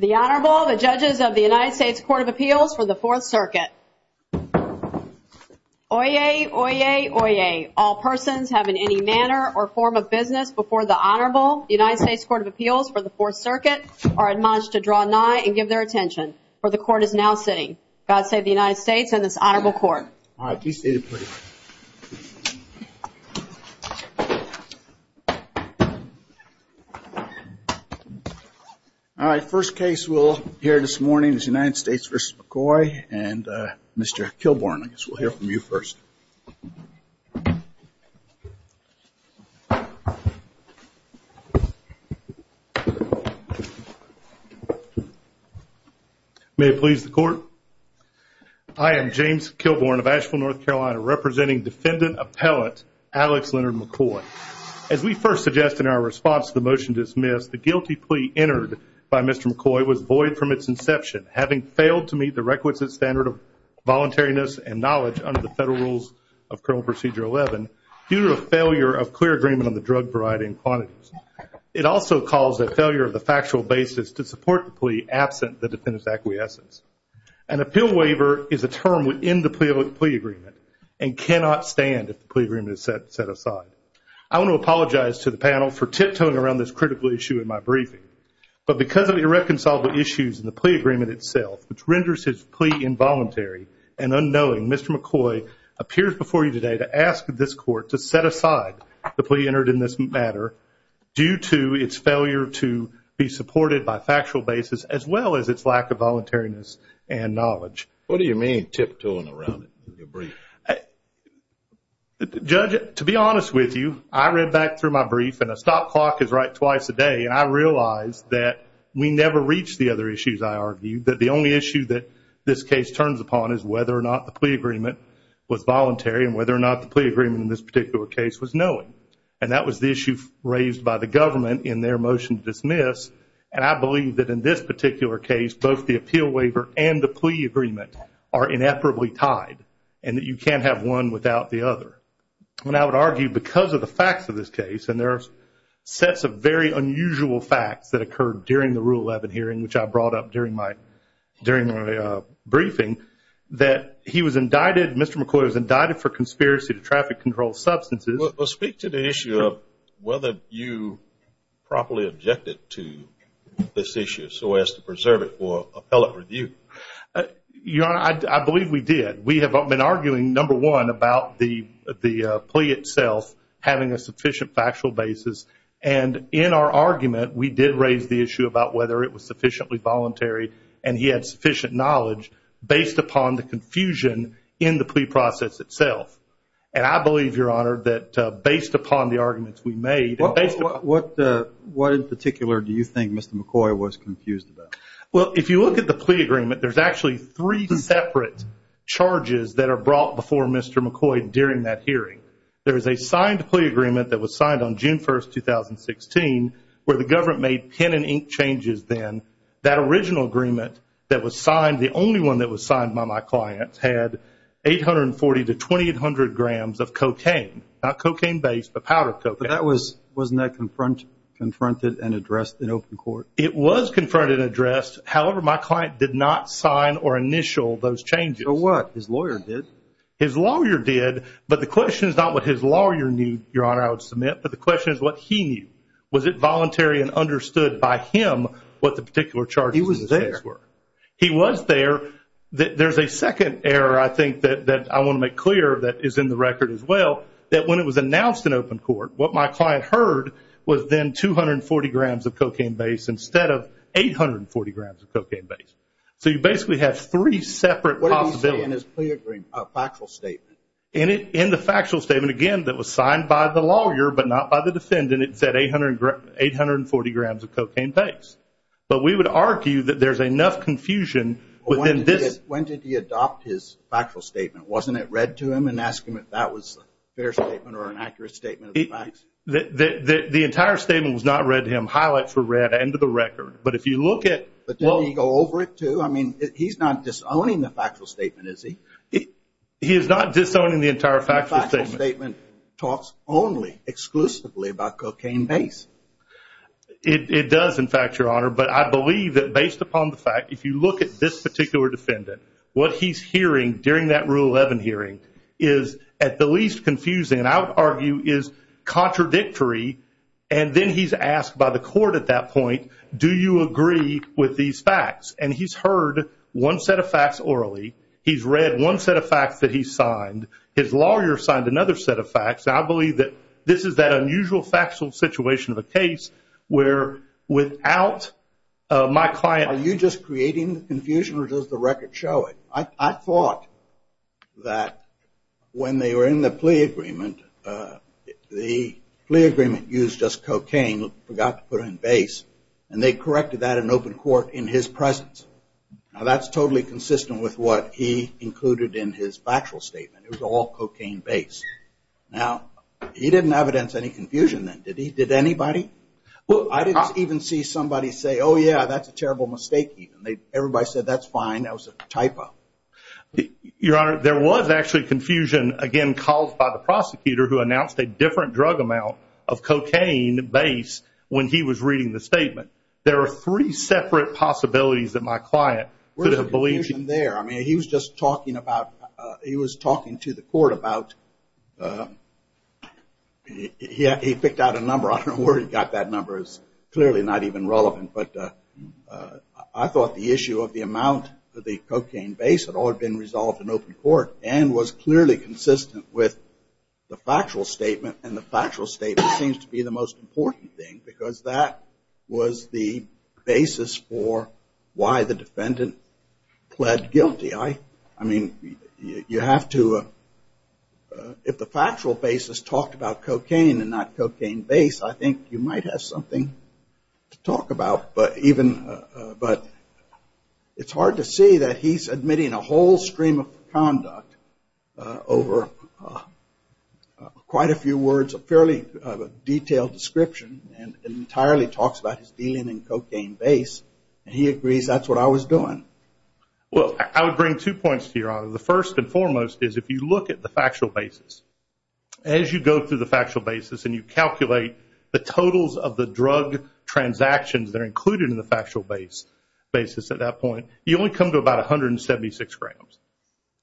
The Honorable, the Judges of the United States Court of Appeals for the Fourth Circuit. Oyez! Oyez! Oyez! All persons have in any manner or form of business before the Honorable, the United States Court of Appeals for the Fourth Circuit, are admonished to draw nigh and give their attention, for the Court is now sitting. God save the United States and All right, first case we'll hear this morning is United States v. McCoy and Mr. Kilbourn, I guess we'll hear from you first. May it please the Court, I am James Kilbourn of Asheville, North Carolina, representing Defendant Appellant Alex Leonard McCoy. As we first suggested in our response to the motion dismissed, the guilty plea entered by Mr. McCoy was void from its inception, having failed to meet the requisite standard of voluntariness and knowledge under the Federal Rules of Criminal Procedure 11, due to a failure of clear agreement on the drug variety and quantities. It also caused a failure of the factual basis to support the plea, absent the defendant's acquiescence. An appeal waiver is a term within the plea agreement, and cannot stand if the plea agreement is set aside. I want to apologize to the panel for tiptoeing around this critical issue in my briefing, but because of irreconcilable issues in the plea agreement itself, which renders his plea involuntary and unknowing, Mr. McCoy appears before you today to ask this Court to set aside the plea entered in this matter, due to its failure to be supported by factual basis, as well as its lack of knowledge. Judge, to be honest with you, I read back through my brief, and a stop clock is right twice a day, and I realized that we never reach the other issues I argued, that the only issue that this case turns upon is whether or not the plea agreement was voluntary, and whether or not the plea agreement in this particular case was knowing. And that was the issue raised by the government in their motion to dismiss, and I believe that in this particular case, both the appeal waiver and the plea agreement are ineperably tied, and that you can't have one without the other. And I would argue, because of the facts of this case, and there are sets of very unusual facts that occurred during the Rule 11 hearing, which I brought up during my briefing, that he was indicted, Mr. McCoy was indicted for conspiracy to traffic control substances. Well, speak to the issue of whether you properly objected to this issue, so as to preserve it for appellate review. Your Honor, I believe we did. We have been arguing, number one, about the plea itself having a sufficient factual basis, and in our argument, we did raise the issue about whether it was sufficiently voluntary, and he had sufficient knowledge, based upon the confusion in the plea process itself. And I believe, Your Honor, that based upon the arguments we made... What in particular do you think Mr. McCoy was confused about? Well, if you look at the plea agreement, there's actually three separate charges that are brought before Mr. McCoy during that hearing. There is a signed plea agreement that was signed on June 1, 2016, where the government made pen and ink changes then. That original agreement that was signed, the only one that was signed by my client, had 840 to 2,800 grams of cocaine, not cocaine-based, but powdered cocaine. But that was, wasn't that confronted and addressed in open court? It was confronted and addressed. However, my client did not sign or initial those changes. So what? His lawyer did? His lawyer did, but the question is not what his lawyer knew, Your Honor, I would submit, but the question is what he knew. Was it voluntary and understood by him what the particular charges in this case were? He was there. He was there. There's a second error, I think, that I want to make clear that is in the record as well, that when it was announced in open court, what my client heard was then 240 grams of cocaine-based instead of 840 grams of cocaine-based. So you basically have three separate possibilities. What did he say in his plea agreement, factual statement? In the factual statement, again, that was signed by the lawyer but not by the defendant, it said 840 grams of cocaine-based. But we would argue that there's enough confusion within this. When did he adopt his factual statement? Wasn't it read to him and asked him if that was a fair statement or an accurate statement of the facts? The entire statement was not read to him, highlights were read, end of the record. But if you look at... But didn't he go over it too? I mean, he's not disowning the factual statement, is he? He is not disowning the entire factual statement. The factual statement talks only exclusively about cocaine-based. It does, in fact, Your Honor, but I believe that based upon the fact, if you look at this particular defendant, what he's hearing during that Rule 11 hearing is at the least confusing and I would argue is contradictory. And then he's asked by the court at that point, do you agree with these facts? And he's heard one set of facts orally, he's read one set of facts that he signed, his lawyer signed another set of facts. I believe that this is that unusual factual situation of a case where without my client... Are you just creating the confusion or does the record show it? I thought that when they were in the plea agreement, the plea agreement used just cocaine, forgot to put in base, and they corrected that in open court in his presence. Now, that's totally consistent with what he included in his factual statement. It was all cocaine-based. Now, he didn't evidence any confusion then, did he? Did anybody? Well, I didn't even see somebody say, oh, yeah, that's a terrible mistake even. Everybody said, that's fine. That was a typo. Your Honor, there was actually confusion, again, called by the prosecutor who announced a different drug amount of cocaine base when he was reading the statement. There are three separate possibilities that my client could have believed. There was confusion there. I mean, he was just talking about, he was talking to the court about, he picked out a number. I don't know where he got that number. It's clearly not even relevant. But I thought the issue of the amount of the cocaine base had all been resolved in open court and was clearly consistent with the factual statement. And the factual statement seems to be the most important thing because that was the basis for why the defendant pled guilty. I mean, you have to... If the factual basis talked about cocaine and not cocaine base, I think you might have something to talk about. But it's hard to see that he's admitting a whole stream of conduct over quite a few words, a fairly detailed description, and entirely talks about his dealing in cocaine base. And he agrees that's what I was doing. Well, I would bring two points to your Honor. The first and foremost is if you look at the factual basis, as you go through the factual basis and you calculate the totals of the drug transactions that are included in the factual basis at that point, you only come to about 176 grams.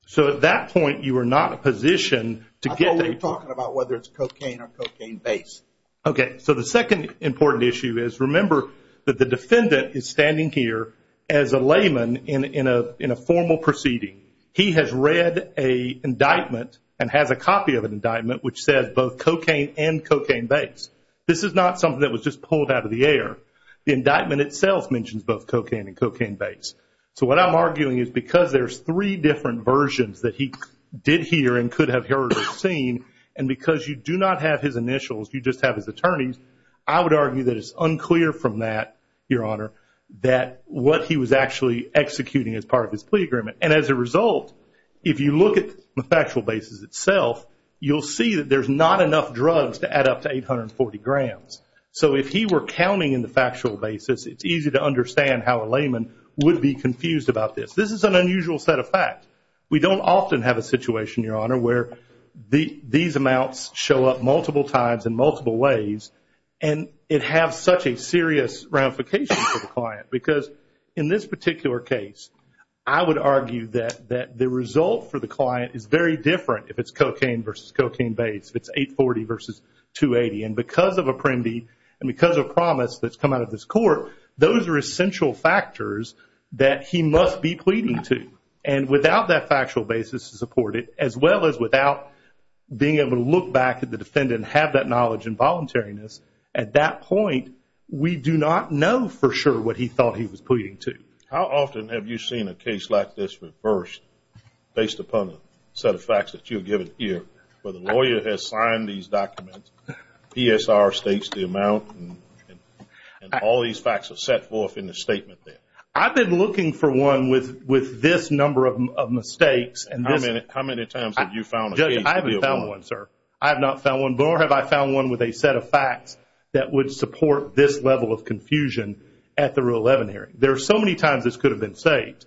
So at that point, you are not in a position to get the... I thought we were talking about whether it's cocaine or cocaine base. Okay. So the second important issue is remember that the defendant is standing here as a layman in a formal proceeding. He has read an indictment and has a copy of an indictment which says both cocaine and cocaine base. This is not something that was just pulled out of the air. The indictment itself mentions both cocaine and cocaine base. So what I'm arguing is because there's three different versions that he did hear and could have heard or seen, and because you do not have his initials, you just have his attorneys, I would argue that it's unclear from that, your Honor, that what he was actually executing as part of his plea agreement. And as a result, if you look at the factual basis itself, you'll see that there's not enough drugs to add up to 840 grams. So if he were counting in the factual basis, it's easy to understand how a layman would be confused about this. This is an unusual set of facts. We don't often have a situation, your Honor, where these amounts show up multiple times in multiple ways and it has such a serious ramification for the client because in this particular case, I would argue that the result for the client is very different if it's cocaine versus cocaine base, if it's 840 versus 280, and because of Apprendi and because of promise that's come out of this court, those are essential factors that he must be pleading to. And without that factual basis to support it, as well as without being able to look back at the defendant and have that knowledge and voluntariness, at that point, we do not know for sure what he thought he was pleading to. How often have you seen a case like this reversed based upon a set of facts that you've given here, where the lawyer has signed these documents, PSR states the amount, and all these facts are set forth in the statement there? I've been looking for one with this number of mistakes. How many times have you found a case? I haven't found one, sir. I have not found one, nor have I found one with a set of facts that would support this level of confusion at the Rule 11 hearing. There are so many times this could have been saved.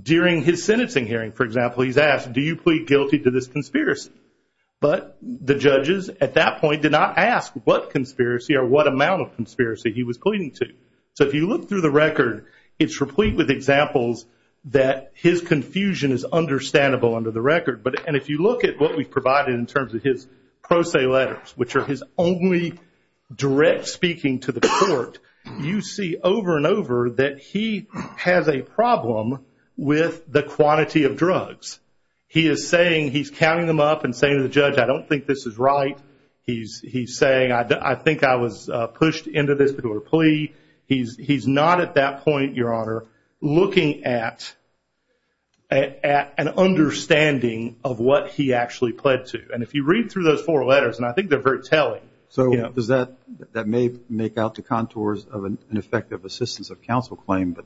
During his sentencing hearing, for example, he's asked, do you plead guilty to this conspiracy? But the judges at that point did not ask what conspiracy or what amount of conspiracy he was pleading to. So if you look through the record, it's replete with examples that his confusion is understandable under the record. And if you look at what we've provided in terms of his pro se letters, which are his only direct speaking to the court, you see over and over that he has a problem with the quantity of drugs. He is saying he's counting them up and saying to the judge, I don't think this is right. He's saying, I think I was pushed into this because of a plea. He's not at that point, Your Honor, looking at an understanding of what he actually pled to. And if you read through those four letters, and I think they're very telling. So does that make out the contours of an effective assistance of counsel claim?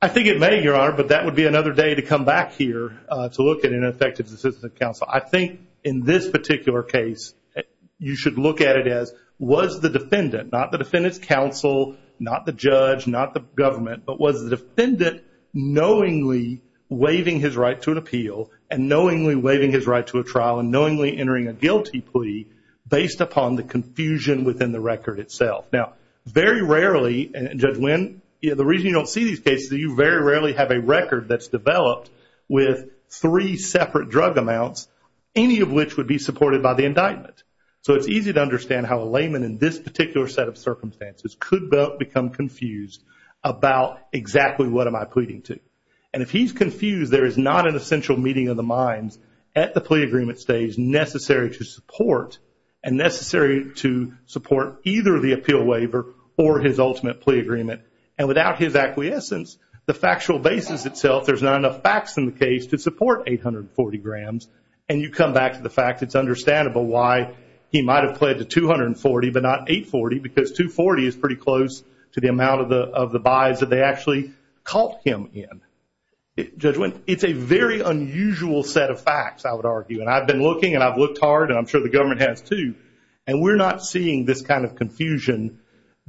I think it may, Your Honor, but that would be another day to come back here to look at an effective assistance of counsel. I think in this particular case, you should look at it as, was the defendant, not the defendant's counsel, not the judge, not the government, but was the defendant knowingly waiving his right to an appeal and knowingly waiving his right to a trial and knowingly entering a guilty plea based upon the confusion within the record itself. Now, very rarely, and Judge Winn, the reason you don't see these cases, you very rarely have a record that's developed with three separate drug amounts, any of which would be supported by the indictment. So it's easy to understand how a layman in this particular set of circumstances could become confused about exactly what am I pleading to. And if he's confused, there is not an essential meeting of the minds at the plea agreement stage necessary to support and necessary to support either the appeal waiver or his ultimate plea agreement. And without his acquiescence, the factual basis itself, there's not enough facts in the case to support 840 grams. And you come back to the fact it's understandable why he might have pled to 240 but not 840, because 240 is pretty close to the amount of the buys that they actually caught him in. Judge Winn, it's a very unusual set of facts, I would argue. And I've been looking and I've looked hard, and I'm sure the government has too, and we're not seeing this kind of confusion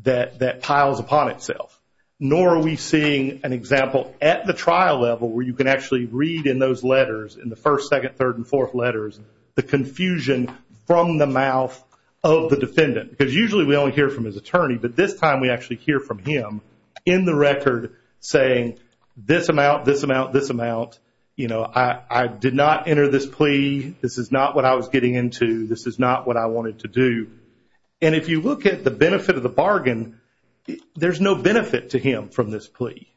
that piles upon itself, nor are we seeing an example at the trial level where you can actually read in those letters, in the first, second, third, and fourth letters, the confusion from the mouth of the defendant. Because usually we only hear from his attorney, but this time we actually hear from him, in the record, saying this amount, this amount, this amount. You know, I did not enter this plea. This is not what I was getting into. This is not what I wanted to do. And if you look at the benefit of the bargain, there's no benefit to him from this plea.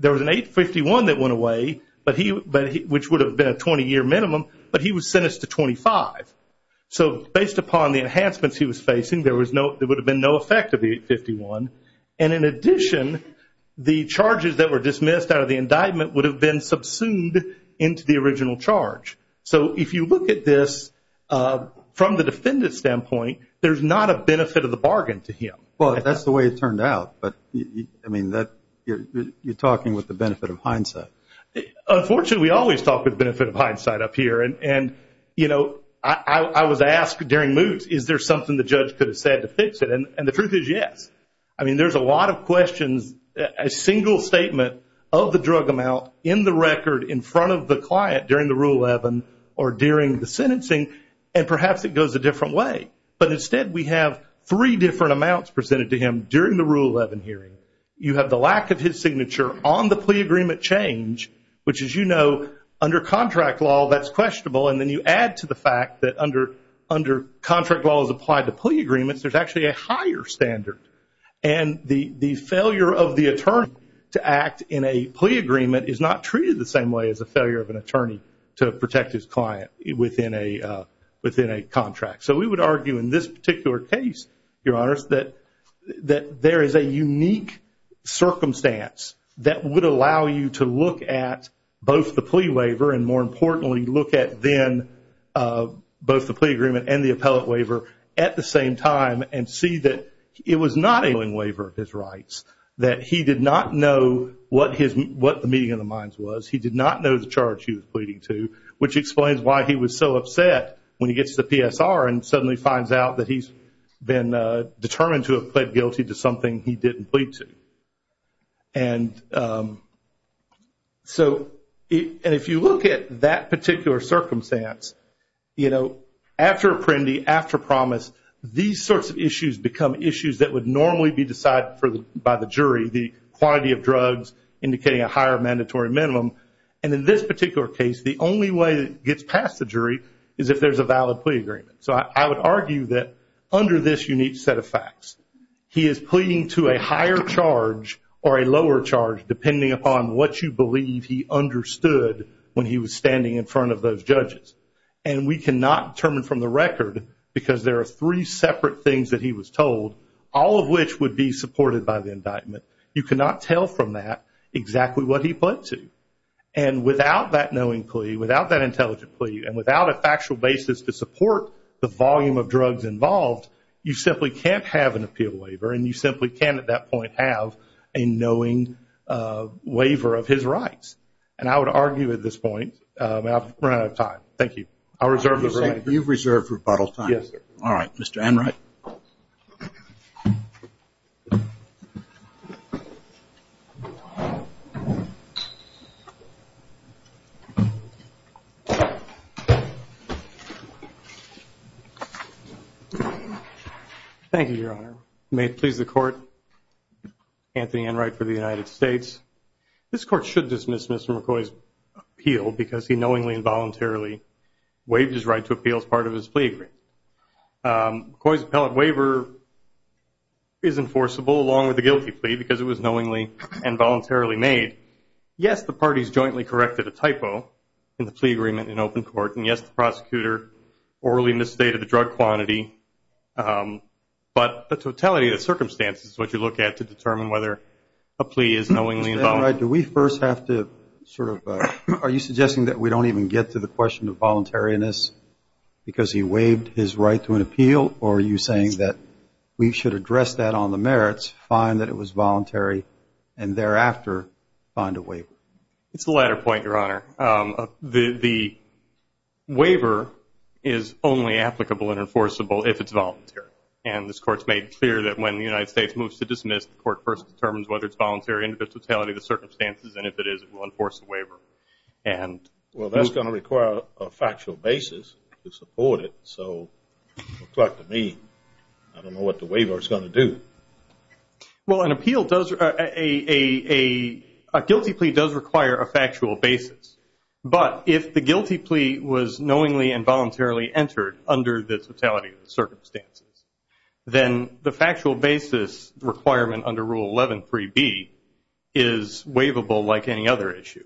There was an 851 that went away, which would have been a 20-year minimum, but he was sentenced to 25. So based upon the enhancements he was facing, there would have been no effect of the 851. And in addition, the charges that were dismissed out of the indictment would have been subsumed into the original charge. So if you look at this from the defendant's standpoint, there's not a benefit of the bargain to him. Well, that's the way it turned out. But, I mean, you're talking with the benefit of hindsight. Unfortunately, we always talk with the benefit of hindsight up here. And, you know, I was asked during moot, is there something the judge could have said to fix it? And the truth is yes. I mean, there's a lot of questions, a single statement of the drug amount in the record in front of the client during the Rule 11 or during the sentencing, and perhaps it goes a different way. But instead, we have three different amounts presented to him during the Rule 11 hearing. You have the lack of his signature on the plea agreement change, which, as you know, under contract law, that's questionable. And then you add to the fact that under contract laws applied to plea agreements, there's actually a higher standard. And the failure of the attorney to act in a plea agreement is not treated the same way as the failure of an attorney to protect his client within a contract. So we would argue in this particular case, Your Honors, that there is a unique circumstance that would allow you to look at both the plea waiver and, more importantly, look at then both the plea agreement and the appellate waiver at the same time and see that it was not a willing waiver of his rights, that he did not know what the meeting of the minds was. He did not know the charge he was pleading to, which explains why he was so upset when he gets to the PSR and suddenly finds out that he's been determined to have pled guilty to something he didn't plead to. And so if you look at that particular circumstance, you know, after Apprendi, after Promise, these sorts of issues become issues that would normally be decided by the jury, the quantity of drugs indicating a higher mandatory minimum. And in this particular case, the only way it gets past the jury is if there's a valid plea agreement. So I would argue that under this unique set of facts, he is pleading to a higher charge or a lower charge, depending upon what you believe he understood when he was standing in front of those judges. And we cannot determine from the record because there are three separate things that he was told, all of which would be supported by the indictment. You cannot tell from that exactly what he pled to. And without that knowing plea, without that intelligent plea, and without a factual basis to support the volume of drugs involved, you simply can't have an appeal waiver, and you simply can't at that point have a knowing waiver of his rights. And I would argue at this point, we're out of time. Thank you. I'll reserve the remainder. You've reserved rebuttal time. Yes, sir. All right, Mr. Enright. Thank you, Your Honor. May it please the Court, Anthony Enright for the United States. This Court should dismiss Mr. McCoy's appeal because he knowingly and voluntarily waived his right to appeal as part of his plea agreement. McCoy's appellate waiver is enforceable along with the guilty plea because it was knowingly and voluntarily made. Yes, the parties jointly corrected a typo in the plea agreement in open court, and yes, the prosecutor orally misstated the drug quantity, but the totality of the circumstances is what you look at to determine whether a plea is knowingly Are you suggesting that we don't even get to the question of voluntariness because he waived his right to an appeal, or are you saying that we should address that on the merits, find that it was voluntary, and thereafter find a waiver? It's the latter point, Your Honor. The waiver is only applicable and enforceable if it's voluntary, and this Court's made clear that when the United States moves to dismiss, the Court first determines whether it's voluntary under the totality of the circumstances, and if it is, it will enforce the waiver. Well, that's going to require a factual basis to support it, so it looks like to me I don't know what the waiver is going to do. Well, a guilty plea does require a factual basis, but if the guilty plea was knowingly and voluntarily entered under the totality of the circumstances, then the factual basis requirement under Rule 11.3.B is waivable like any other issue,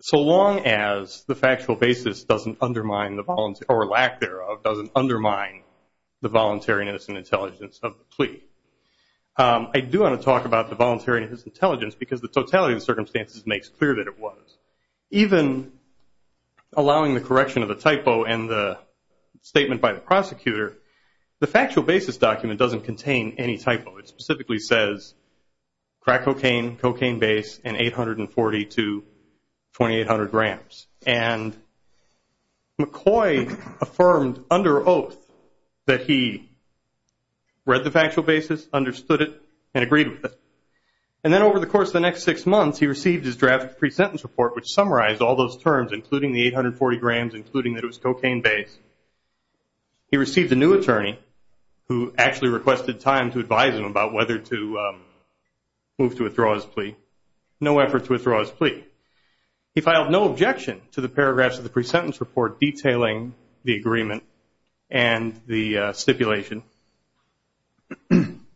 so long as the factual basis doesn't undermine the voluntariness or lack thereof doesn't undermine the voluntariness and intelligence of the plea. I do want to talk about the voluntariness and intelligence because the totality of the circumstances makes clear that it was. Even allowing the correction of the typo in the statement by the prosecutor, the factual basis document doesn't contain any typo. It specifically says crack cocaine, cocaine base, and 840 to 2800 grams, and McCoy affirmed under oath that he read the factual basis, understood it, and agreed with it, and then over the course of the next six months, he received his draft pre-sentence report, which summarized all those terms, including the 840 grams, including that it was cocaine base. He received a new attorney who actually requested time to advise him about whether to move to withdraw his plea. No effort to withdraw his plea. He filed no objection to the paragraphs of the pre-sentence report detailing the agreement and the stipulation,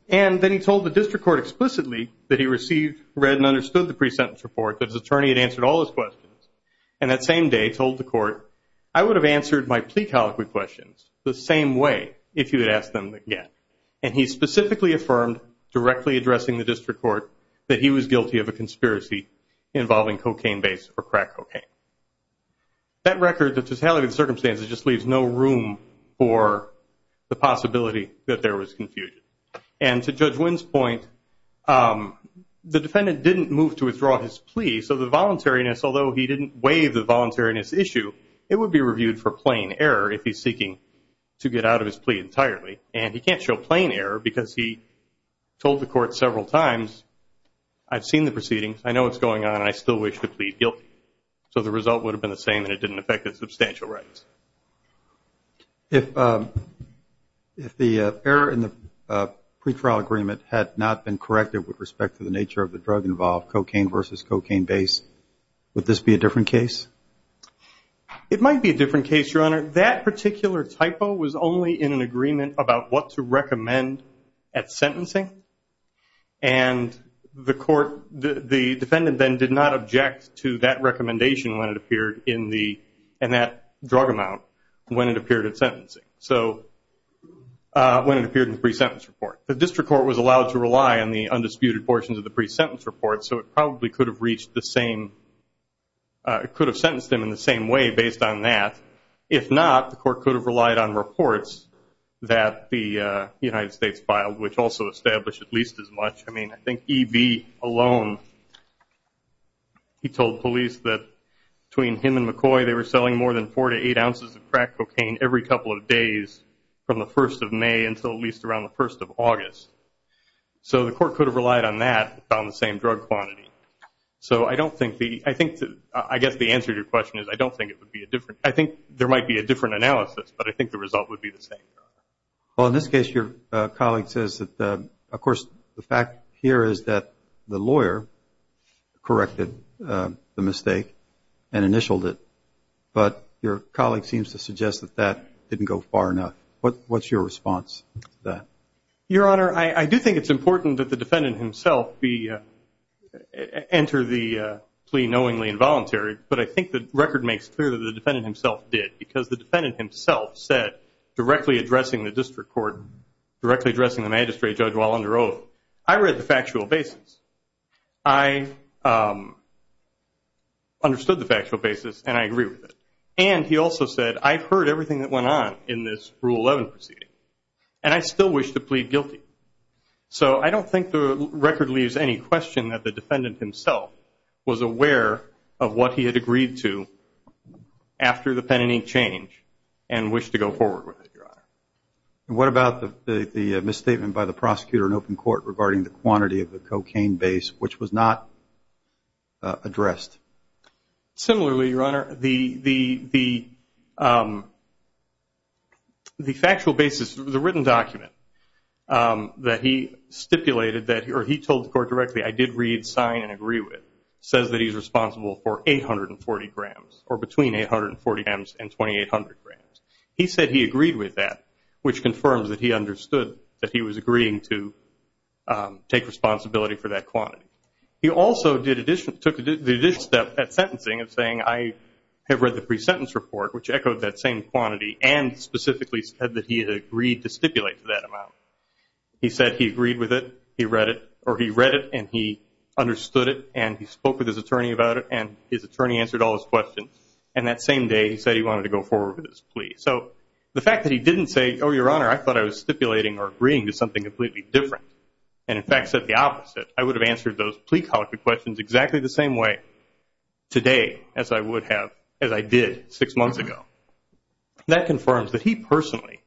and then he told the district court explicitly that he received, read, and understood the pre-sentence report, that his attorney had answered all his questions, and that same day told the court, I would have answered my plea colloquy questions the same way if you had asked them again, and he specifically affirmed directly addressing the district court that he was guilty of a conspiracy involving cocaine base or crack cocaine. That record, the totality of the circumstances, just leaves no room for the possibility that there was confusion, and to Judge Wynn's point, the defendant didn't move to withdraw his plea, so the voluntariness, although he didn't waive the voluntariness issue, it would be reviewed for plain error if he's seeking to get out of his plea entirely, and he can't show plain error because he told the court several times, I've seen the proceedings, I know what's going on, and I still wish to plead guilty, so the result would have been the same and it didn't affect his substantial rights. If the error in the pre-trial agreement had not been corrected with respect to the nature of the drug involved, cocaine versus cocaine base, would this be a different case? It might be a different case, Your Honor. That particular typo was only in an agreement about what to recommend at sentencing, and the defendant then did not object to that recommendation when it appeared in that drug amount when it appeared at sentencing, so when it appeared in the pre-sentence report. The district court was allowed to rely on the undisputed portions of the pre-sentence report, so it probably could have reached the same, could have sentenced him in the same way based on that. If not, the court could have relied on reports that the United States filed, which also established at least as much. I mean, I think E.B. alone, he told police that between him and McCoy, they were selling more than four to eight ounces of crack cocaine every couple of days from the first of May until at least around the first of August. So the court could have relied on that, on the same drug quantity. So I don't think the, I think, I guess the answer to your question is I don't think it would be a different, I think there might be a different analysis, but I think the result would be the same. Well, in this case, your colleague says that, of course, the fact here is that the lawyer corrected the mistake and initialed it, but your colleague seems to suggest that that didn't go far enough. What's your response to that? Your Honor, I do think it's important that the defendant himself enter the plea knowingly and voluntarily, but I think the record makes clear that the defendant himself did, because the defendant himself said, directly addressing the district court, directly addressing the magistrate judge while under oath, I read the factual basis. I understood the factual basis, and I agree with it. And he also said, I've heard everything that went on in this Rule 11 proceeding, and I still wish to plead guilty. So I don't think the record leaves any question that the defendant himself was aware of what he had agreed to after the pen and ink change and wished to go forward with it, Your Honor. And what about the misstatement by the prosecutor in open court regarding the quantity of the cocaine base, which was not addressed? Similarly, Your Honor, the factual basis, the written document that he stipulated, or he told the court directly, I did read, sign, and agree with, says that he's responsible for 840 grams, or between 840 grams and 2,800 grams. He said he agreed with that, which confirms that he understood that he was agreeing to take responsibility for that quantity. He also took the additional step at sentencing of saying, I have read the pre-sentence report, which echoed that same quantity, and specifically said that he had agreed to stipulate that amount. He said he agreed with it, he read it, or he read it and he understood it, and he spoke with his attorney about it, and his attorney answered all his questions. And that same day, he said he wanted to go forward with his plea. So the fact that he didn't say, oh, Your Honor, I thought I was stipulating or agreeing to something completely different, and in fact said the opposite, I would have answered those plea colloquy questions exactly the same way today as I would have as I did six months ago. That confirms that he personally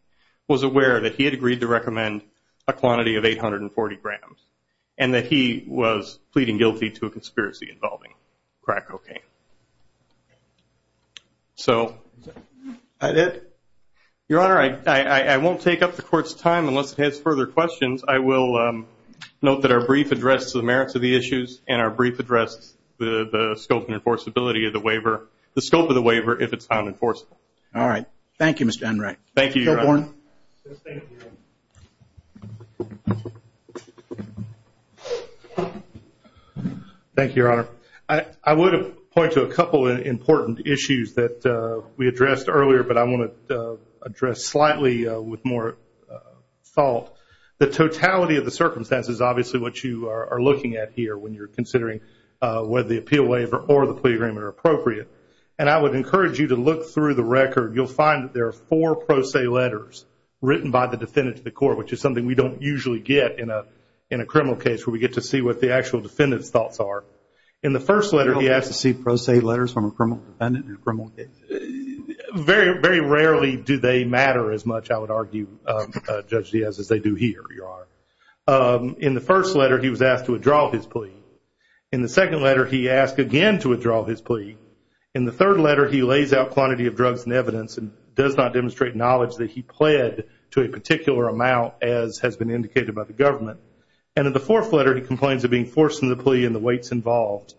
was aware that he had agreed to recommend a quantity of 840 grams, and that he was pleading guilty to a conspiracy involving crack cocaine. Is that it? Your Honor, I won't take up the Court's time unless it has further questions. I will note that our brief addressed the merits of the issues, and our brief addressed the scope and enforceability of the waiver, the scope of the waiver if it's unenforceable. All right. Thank you, Mr. Enright. Thank you, Your Honor. Thank you, Your Honor. Thank you, Your Honor. I would point to a couple of important issues that we addressed earlier, but I want to address slightly with more thought. The totality of the circumstances is obviously what you are looking at here when you're considering whether the appeal waiver or the plea agreement are appropriate. And I would encourage you to look through the record. You'll find that there are four pro se letters written by the defendant to the court, which is something we don't usually get in a criminal case where we get to see what the actual defendant's thoughts are. In the first letter, he asked to see pro se letters from a criminal defendant in a criminal case. Very rarely do they matter as much, I would argue, Judge Diaz, as they do here, Your Honor. In the first letter, he was asked to withdraw his plea. In the second letter, he asked again to withdraw his plea. In the third letter, he lays out quantity of drugs and evidence and does not demonstrate knowledge that he pled to a particular amount as has been indicated by the government. And in the fourth letter, he complains of being forced into the plea and the weights involved.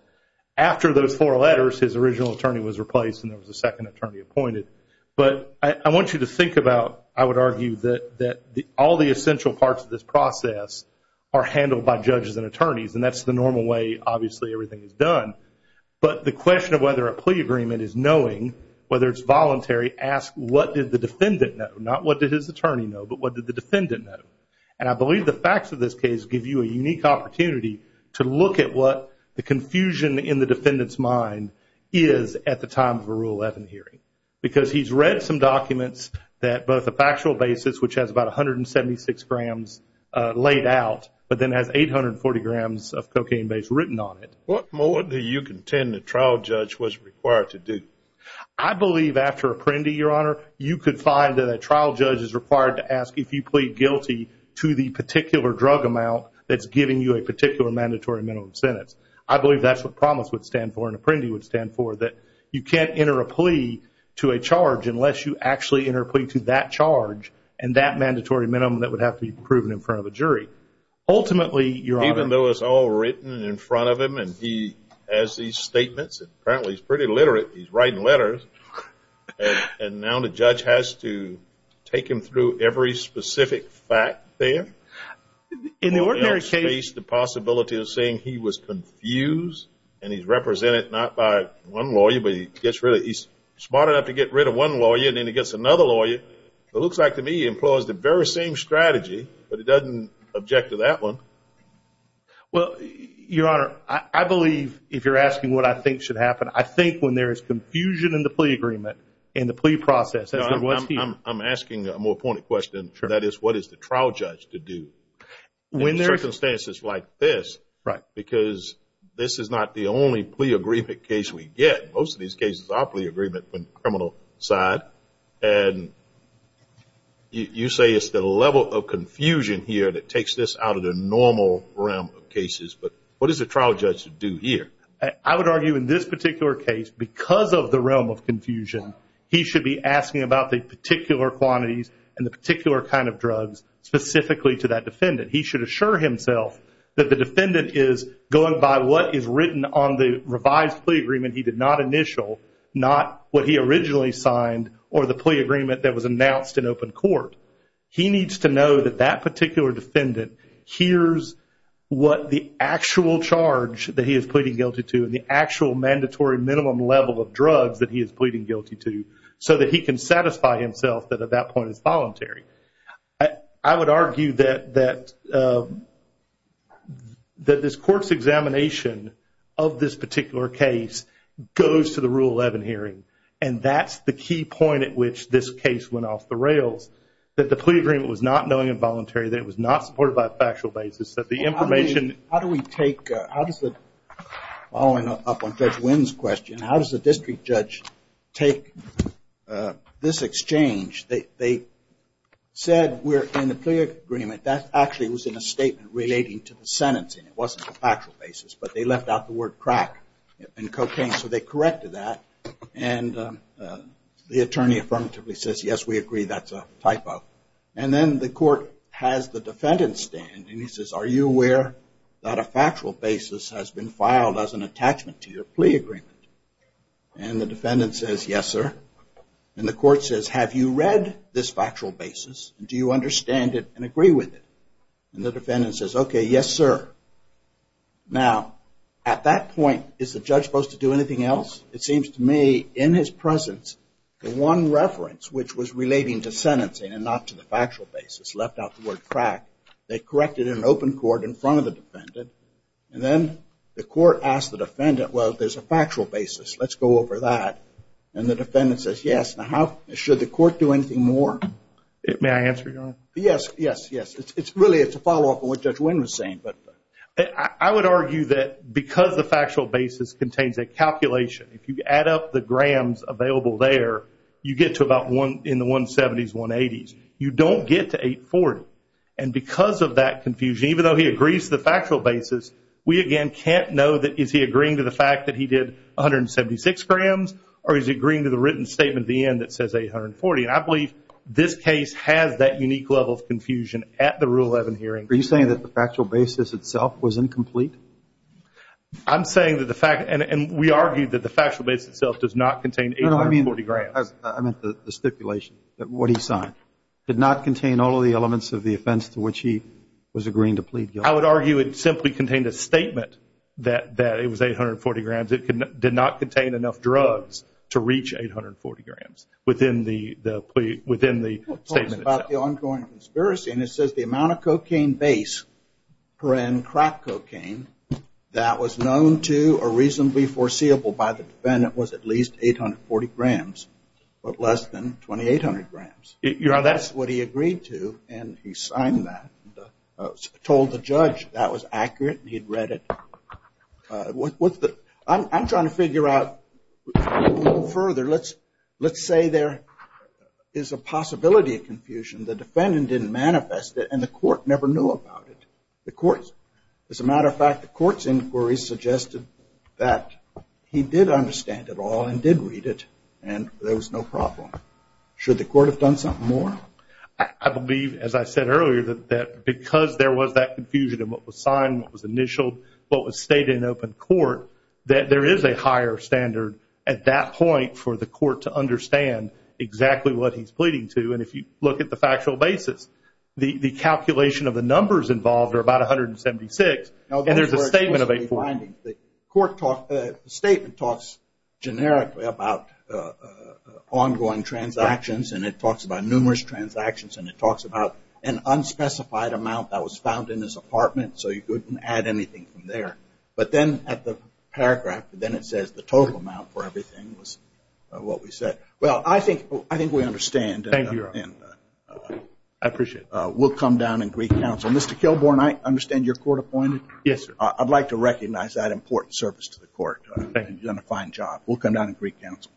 After those four letters, his original attorney was replaced and there was a second attorney appointed. But I want you to think about, I would argue, that all the essential parts of this process are handled by judges and attorneys, and that's the normal way, obviously, everything is done. But the question of whether a plea agreement is knowing, whether it's voluntary, asks what did the defendant know? Not what did his attorney know, but what did the defendant know? And I believe the facts of this case give you a unique opportunity to look at what the confusion in the defendant's mind is at the time of a Rule 11 hearing. Because he's read some documents that both a factual basis, which has about 176 grams laid out, but then has 840 grams of cocaine base written on it. What more do you contend the trial judge was required to do? I believe after Apprendi, Your Honor, you could find that a trial judge is required to ask if you plead guilty to the particular drug amount that's giving you a particular mandatory minimum sentence. I believe that's what Promise would stand for and Apprendi would stand for, that you can't enter a plea to a charge unless you actually enter a plea to that charge and that mandatory minimum that would have to be proven in front of a jury. Ultimately, Your Honor. Even though it's all written in front of him and he has these statements, apparently he's pretty literate, he's writing letters, and now the judge has to take him through every specific fact there. In the ordinary case. The possibility of saying he was confused and he's represented not by one lawyer, but he gets rid of, he's smart enough to get rid of one lawyer and then he gets another lawyer. It looks like to me he employs the very same strategy, but he doesn't object to that one. Well, Your Honor, I believe if you're asking what I think should happen, I think when there is confusion in the plea agreement, in the plea process, as there was here. I'm asking a more pointed question. That is, what is the trial judge to do? In circumstances like this, because this is not the only plea agreement case we get. Most of these cases are plea agreement from the criminal side and you say it's the level of confusion here that takes this out of the normal realm of cases, but what does the trial judge do here? I would argue in this particular case, because of the realm of confusion, he should be asking about the particular quantities and the particular kind of drugs specifically to that defendant. He should assure himself that the defendant is going by what is written on the revised plea agreement he did not initial, not what he originally signed or the plea agreement that was announced in open court. He needs to know that that particular defendant hears what the actual charge that he is pleading guilty to and the actual mandatory minimum level of drugs that he is pleading guilty to so that he can satisfy himself that at that point is voluntary. I would argue that this court's examination of this particular case goes to the Rule 11 hearing, and that's the key point at which this case went off the rails, that the plea agreement was not knowing involuntary, that it was not supported by a factual basis, that the information... How do we take, following up on Judge Wynn's question, how does the district judge take this exchange? They said in the plea agreement that actually was in a statement relating to the sentencing. It wasn't a factual basis, but they left out the word crack and cocaine, so they corrected that. And the attorney affirmatively says, yes, we agree, that's a typo. And then the court has the defendant stand and he says, are you aware that a factual basis has been filed as an attachment to your plea agreement? And the defendant says, yes, sir. And the court says, have you read this factual basis? Do you understand it and agree with it? And the defendant says, okay, yes, sir. Now, at that point, is the judge supposed to do anything else? It seems to me, in his presence, the one reference, which was relating to sentencing and not to the factual basis, left out the word crack. They corrected it in an open court in front of the defendant. And then the court asked the defendant, well, there's a factual basis. Let's go over that. And the defendant says, yes. Now, should the court do anything more? May I answer, Your Honor? Yes, yes, yes. It's really a follow-up to what Judge Wynn was saying. I would argue that because the factual basis contains a calculation, if you add up the grams available there, you get to about in the 170s, 180s. You don't get to 840. And because of that confusion, even though he agrees to the factual basis, we again can't know that is he agreeing to the fact that he did 176 grams or is he agreeing to the written statement at the end that says 840. And I believe this case has that unique level of confusion at the Rule 11 hearing. Are you saying that the factual basis itself was incomplete? I'm saying that the fact – and we argued that the factual basis itself does not contain 840 grams. I meant the stipulation, what he signed. It did not contain all of the elements of the offense to which he was agreeing to plead guilty. I would argue it simply contained a statement that it was 840 grams. It did not contain enough drugs to reach 840 grams within the statement itself. About the ongoing conspiracy, and it says the amount of cocaine base, crack cocaine, that was known to or reasonably foreseeable by the defendant was at least 840 grams, but less than 2,800 grams. That's what he agreed to, and he signed that. Told the judge that was accurate, and he had read it. I'm trying to figure out further. Let's say there is a possibility of confusion. The defendant didn't manifest it, and the court never knew about it. As a matter of fact, the court's inquiry suggested that he did understand it all and did read it, and there was no problem. Should the court have done something more? I believe, as I said earlier, that because there was that confusion in what was signed, what was initialed, what was stated in open court, that there is a higher standard at that point for the court to understand exactly what he's pleading to, and if you look at the factual basis, the calculation of the numbers involved are about 176, and there's a statement of 840. The statement talks generically about ongoing transactions, and it talks about numerous transactions, and it talks about an unspecified amount that was found in his apartment so you couldn't add anything from there. But then at the paragraph, then it says the total amount for everything was what we said. Well, I think we understand. Thank you, Your Honor. I appreciate it. We'll come down in Greek counsel. Mr. Kilborne, I understand you're court-appointed. Yes, sir. I'd like to recognize that important service to the court. You've done a fine job. We'll come down in Greek counsel. Thank you.